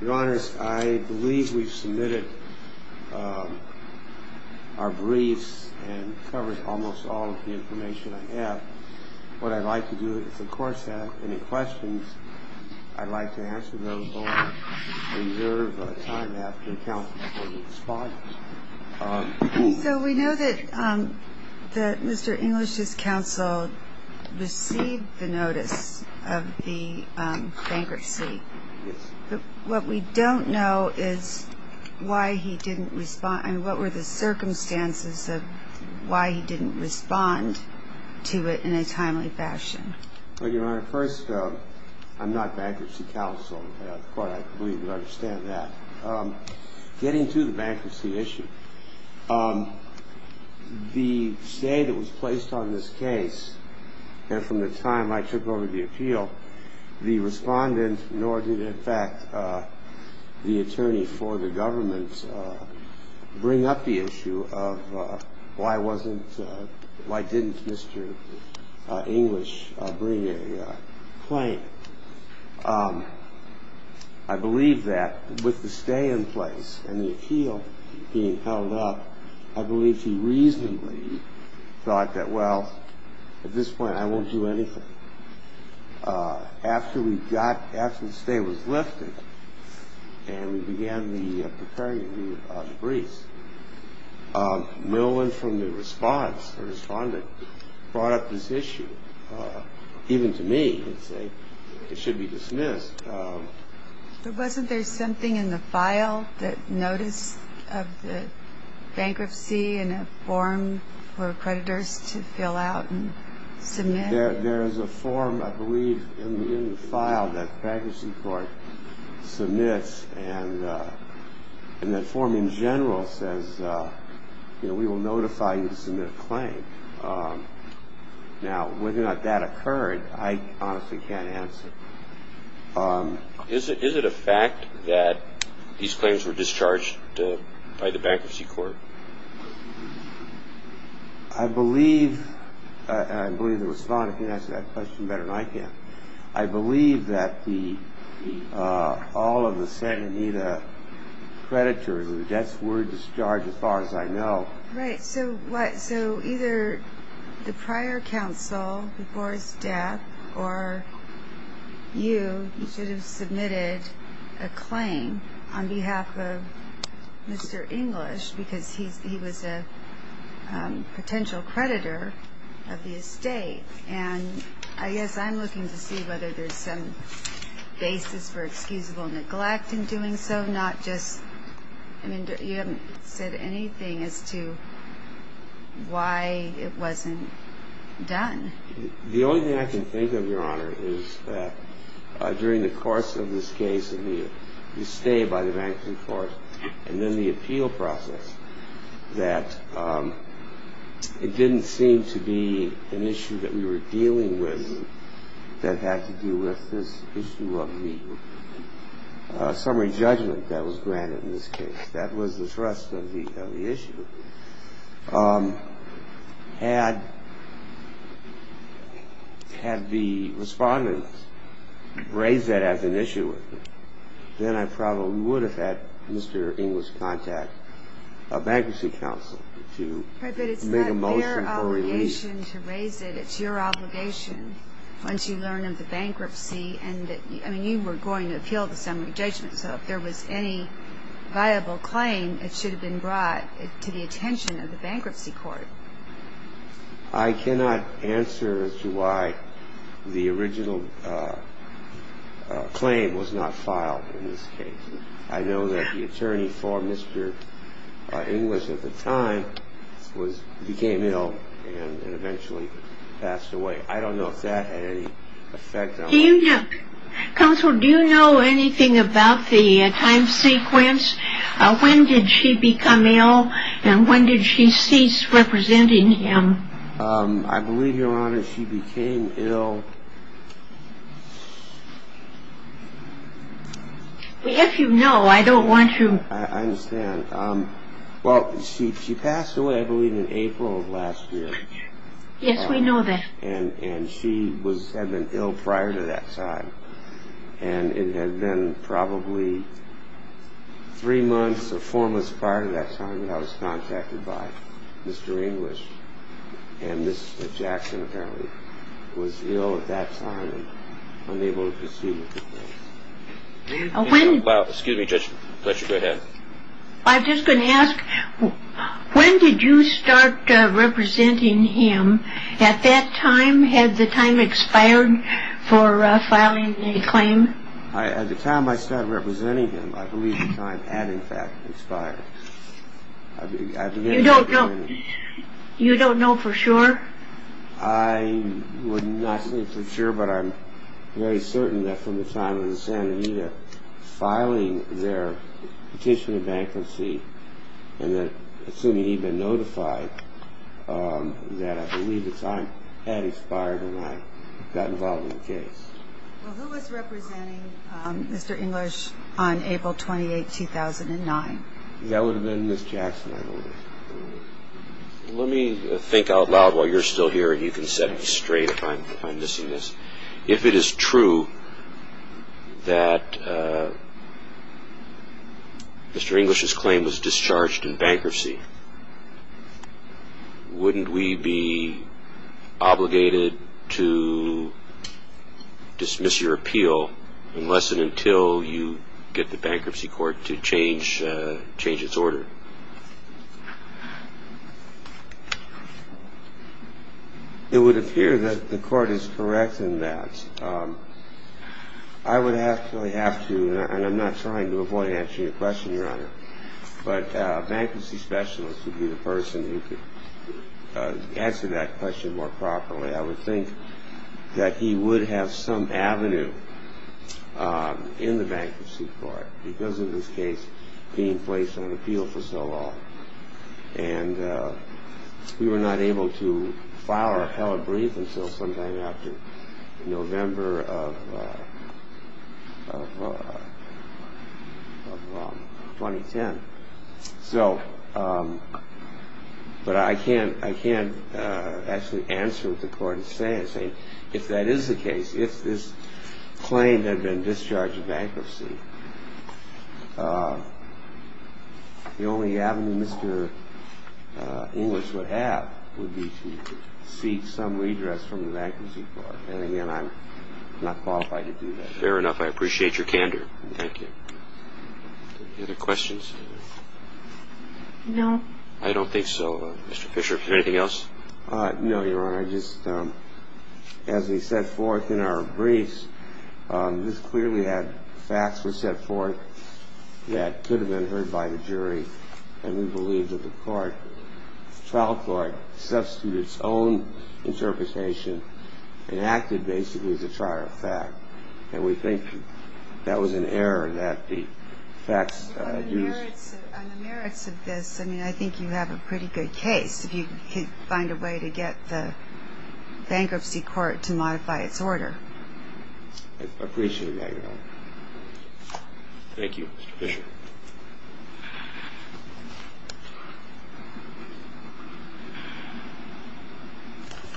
Your Honors, I believe we've submitted our briefs and covered almost all of the information I have. What I'd like to do is, if the Court has any questions, I'd like to answer those or reserve time after the Counsel is going to respond. So we know that Mr. English's counsel received the notice of the bankruptcy. Yes. But what we don't know is why he didn't respond. I mean, what were the circumstances of why he didn't respond to it in a timely fashion? Well, Your Honor, first, I'm not bankruptcy counsel. The Court, I believe, would understand that. Getting to the bankruptcy issue, the stay that was placed on this case, and from the time I took over the appeal, the respondent, nor did, in fact, the attorney for the government, bring up the issue of why didn't Mr. English bring a claim. I believe that, with the stay in place and the appeal being held up, I believe he reasonably thought that, well, at this point I won't do anything. After the stay was lifted and we began the procuring of the briefs, the respondent brought up this issue. Even to me, it should be dismissed. But wasn't there something in the file, that notice of the bankruptcy in a form for creditors to fill out and submit? There is a form, I believe, in the file that the Bankruptcy Court submits, and that form in general says, you know, we will notify you to submit a claim. Now, whether or not that occurred, I honestly can't answer. Is it a fact that these claims were discharged by the Bankruptcy Court? I believe, and I believe the respondent can answer that question better than I can, but I believe that all of the Santa Anita creditors' debts were discharged as far as I know. Right. So either the prior counsel, before his death, or you, you should have submitted a claim on behalf of Mr. English because he was a potential creditor of the estate. And I guess I'm looking to see whether there's some basis for excusable neglect in doing so, not just, I mean, you haven't said anything as to why it wasn't done. The only thing I can think of, Your Honor, is that during the course of this case, you stayed by the Bankruptcy Court, and then the appeal process, that it didn't seem to be an issue that we were dealing with that had to do with this issue of the summary judgment that was granted in this case. That was the thrust of the issue. Had the respondent raised that as an issue with me, then I probably would have had Mr. English contact a bankruptcy counsel to make a motion for relief. Right, but it's not their obligation to raise it. It's your obligation once you learn of the bankruptcy, and, I mean, you were going to appeal the summary judgment, so if there was any viable claim, it should have been brought to the attention of the Bankruptcy Court. I cannot answer as to why the original claim was not filed in this case. I know that the attorney for Mr. English at the time became ill and eventually passed away. I don't know if that had any effect on the case. Counsel, do you know anything about the time sequence? When did she become ill, and when did she cease representing him? I believe, Your Honor, she became ill... If you know, I don't want you... I understand. Well, she passed away, I believe, in April of last year. Yes, we know that. And she had been ill prior to that time, and it had been probably three months or four months prior to that time that I was contacted by Mr. English. And Mr. Jackson apparently was ill at that time and unable to proceed with the case. Excuse me, Judge Fletcher, go ahead. I'm just going to ask, when did you start representing him? At that time, had the time expired for filing a claim? At the time I started representing him, I believe the time had, in fact, expired. You don't know for sure? I would not say for sure, but I'm very certain that from the time of the Santa Anita filing their petition of bankruptcy and then assuming he'd been notified, that I believe the time had expired when I got involved in the case. Well, who was representing Mr. English on April 28, 2009? That would have been Ms. Jackson, I believe. Let me think out loud while you're still here, and you can set me straight if I'm missing this. If it is true that Mr. English's claim was discharged in bankruptcy, wouldn't we be obligated to dismiss your appeal unless and until you get the bankruptcy court to change its order? It would appear that the court is correct in that. I would actually have to, and I'm not trying to avoid answering your question, Your Honor, but a bankruptcy specialist would be the person who could answer that question more properly. I would think that he would have some avenue in the bankruptcy court because of his case being placed on appeal for so long. And we were not able to file our appellate brief until sometime after November of 2010. So, but I can't actually answer what the court is saying. If that is the case, if this claim had been discharged in bankruptcy, the only avenue Mr. English would have would be to seek some redress from the bankruptcy court. And again, I'm not qualified to do that. Fair enough. I appreciate your candor. Thank you. Any other questions? No. I don't think so. Mr. Fisher, is there anything else? No, Your Honor. Your Honor, just as we set forth in our briefs, this clearly had facts were set forth that could have been heard by the jury. And we believe that the trial court substituted its own interpretation and acted basically as a trier of fact. And we think that was an error that the facts used. On the merits of this, I mean, I think you have a pretty good case. If you could find a way to get the bankruptcy court to modify its order. I appreciate that, Your Honor. Thank you, Mr. Fisher.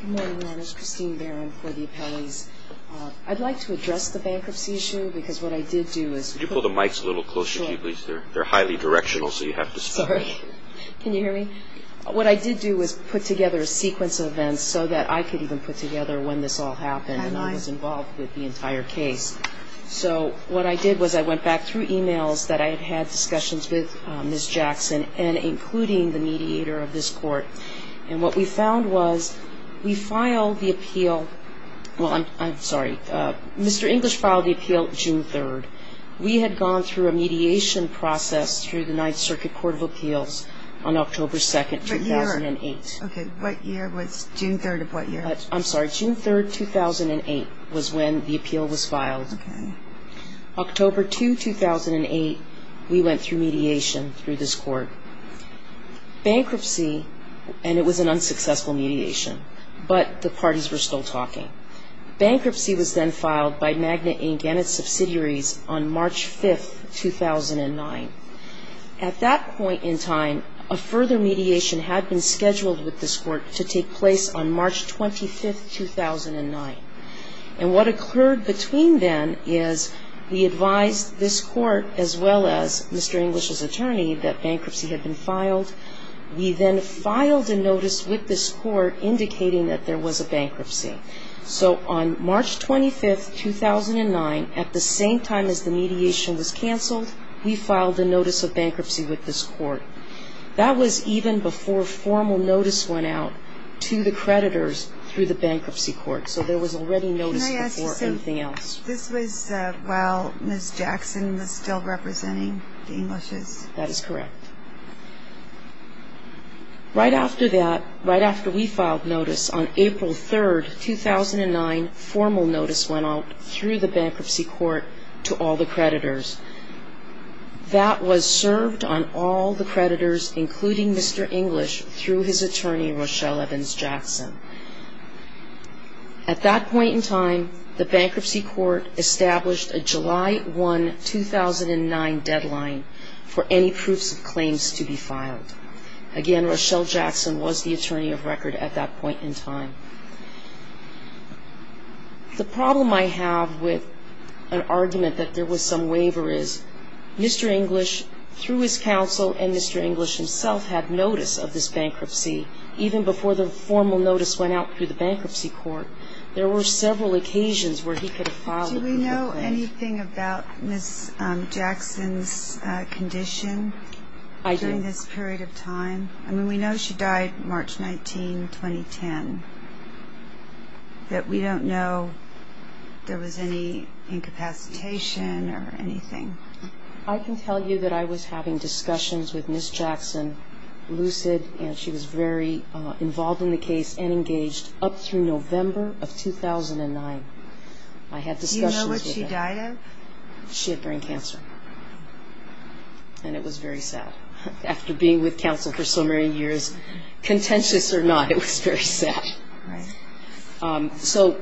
Good morning, Your Honor. This is Christine Barron for the appellees. I'd like to address the bankruptcy issue because what I did do is- Could you pull the mics a little closer to you, please? Sure. They're highly directional, so you have to- Sorry. Can you hear me? What I did do was put together a sequence of events so that I could even put together when this all happened. And I was involved with the entire case. So what I did was I went back through emails that I had had discussions with Ms. Jackson and including the mediator of this court. And what we found was we filed the appeal-well, I'm sorry. Mr. English filed the appeal June 3rd. We had gone through a mediation process through the Ninth Circuit Court of Appeals on October 2nd, 2008. Okay. What year was-June 3rd of what year? I'm sorry. June 3rd, 2008 was when the appeal was filed. Okay. October 2, 2008, we went through mediation through this court. Bankruptcy-and it was an unsuccessful mediation, but the parties were still talking. Bankruptcy was then filed by Magna Inc. and its subsidiaries on March 5th, 2009. At that point in time, a further mediation had been scheduled with this court to take place on March 25th, 2009. And what occurred between then is we advised this court as well as Mr. English's attorney that bankruptcy had been filed. We then filed a notice with this court indicating that there was a bankruptcy. So on March 25th, 2009, at the same time as the mediation was canceled, we filed a notice of bankruptcy with this court. That was even before formal notice went out to the creditors through the bankruptcy court. So there was already notice before anything else. Can I ask you something? This was while Ms. Jackson was still representing the Englishes? That is correct. Right after that, right after we filed notice on April 3rd, 2009, formal notice went out through the bankruptcy court to all the creditors. That was served on all the creditors, including Mr. English, through his attorney, Rochelle Evans Jackson. At that point in time, the bankruptcy court established a July 1, 2009, deadline for any bankruptcy. And there were many proofs of claims to be filed. Again, Rochelle Jackson was the attorney of record at that point in time. The problem I have with an argument that there was some waiver is Mr. English, through his counsel, and Mr. English himself had notice of this bankruptcy even before the formal notice went out through the bankruptcy court. There were several occasions where he could have filed. Do we know anything about Ms. Jackson's condition during this period of time? I mean, we know she died March 19, 2010, that we don't know there was any incapacitation or anything. I can tell you that I was having discussions with Ms. Jackson, Lucid, and she was very involved in the case and engaged up through November of 2009. I had discussions with her. Do you know what she died of? She had brain cancer, and it was very sad. After being with counsel for so many years, contentious or not, it was very sad. So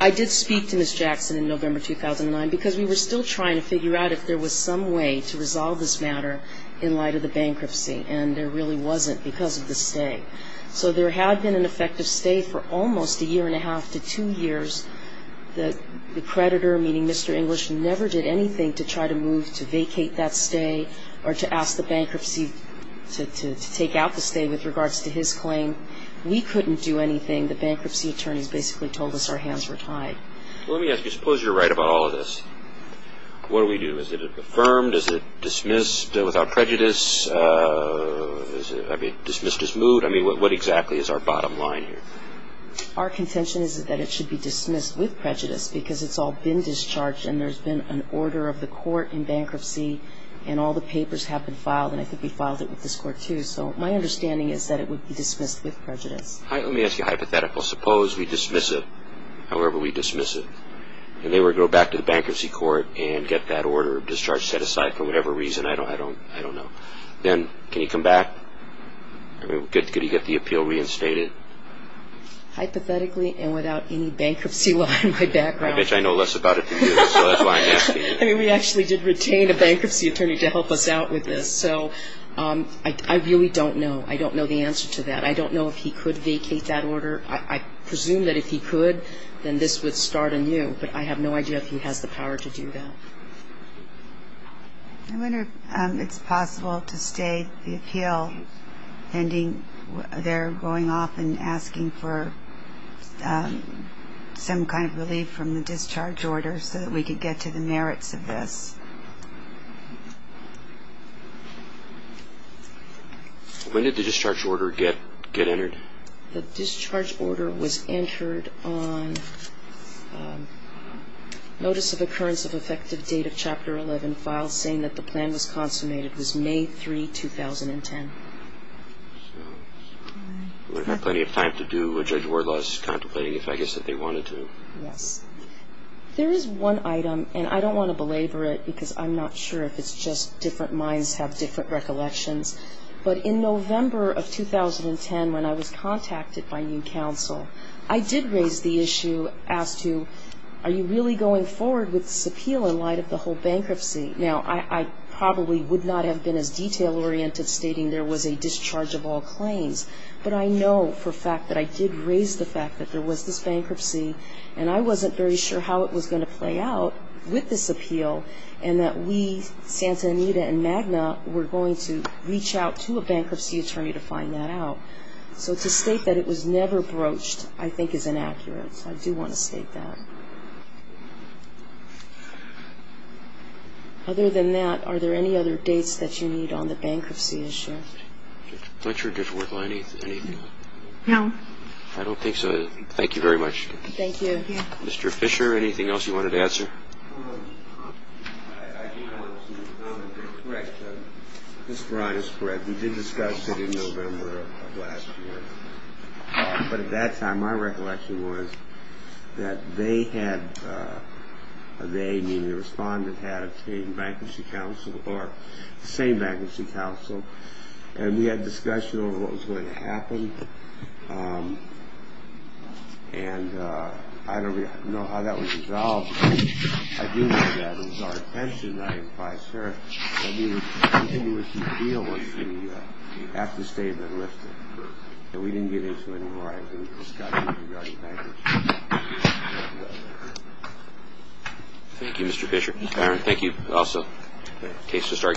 I did speak to Ms. Jackson in November 2009 because we were still trying to figure out if there was some way to resolve this matter in light of the bankruptcy, and there really wasn't because of the stay. So there had been an effective stay for almost a year and a half to two years. The creditor, meaning Mr. English, never did anything to try to move to vacate that stay or to ask the bankruptcy to take out the stay with regards to his claim. We couldn't do anything. The bankruptcy attorneys basically told us our hands were tied. Let me ask you, suppose you're right about all of this. What do we do? Is it affirmed? Is it dismissed without prejudice? I mean, dismissed as moot? I mean, what exactly is our bottom line here? Our contention is that it should be dismissed with prejudice because it's all been discharged, and there's been an order of the court in bankruptcy, and all the papers have been filed, and I think we filed it with this court, too. So my understanding is that it would be dismissed with prejudice. Let me ask you a hypothetical. Suppose we dismiss it, however we dismiss it, and they were to go back to the bankruptcy court and get that order of discharge set aside for whatever reason. I don't know. Then can he come back? Could he get the appeal reinstated? Hypothetically and without any bankruptcy law in my background. I bet you I know less about it than you, so that's why I'm asking you. I mean, we actually did retain a bankruptcy attorney to help us out with this, so I really don't know. I don't know the answer to that. I don't know if he could vacate that order. I presume that if he could, then this would start anew, but I have no idea if he has the power to do that. I wonder if it's possible to stay the appeal pending. They're going off and asking for some kind of relief from the discharge order so that we could get to the merits of the order. I don't know the answer to this. When did the discharge order get entered? The discharge order was entered on Notice of Occurrence of Effective Date of Chapter 11 file saying that the plan was consummated. It was May 3, 2010. They had plenty of time to do a judge's wordless contemplating, if I guess that they wanted to. There is one item, and I don't want to belabor it because I'm not sure if it's just different minds have different recollections, but in November of 2010, when I was contacted by new counsel, I did raise the issue as to, are you really going forward with this appeal in light of the whole bankruptcy? Now, I probably would not have been as detail-oriented stating there was a discharge of all claims, but I know for a fact that I did raise the fact that there was this bankruptcy, and I wasn't very sure how it was going to play out with this appeal, and that we, Santa Anita and MAGNA, were going to reach out to a bankruptcy attorney to find that out. So to state that it was never broached I think is inaccurate, so I do want to state that. Other than that, are there any other dates that you need on the bankruptcy issue? I'm not sure it did work on anything. No. I don't think so. Thank you very much. Thank you. Mr. Fisher, anything else you wanted to answer? I do want to make a comment. Mr. Ryan is correct. We did discuss it in November of last year, but at that time my recollection was that they had, meaning the respondent, had obtained bankruptcy counsel, or the same bankruptcy counsel, and we had a discussion over what was going to happen, and I don't know how that was resolved. I do know that it was our intention, I imply, sir, that we would continue with the appeal once the afterstatement lifted. But we didn't get into it in a while. We discussed it regarding bankruptcy. Thank you, Mr. Fisher. Thank you. Thank you also. Case to start, you just submit.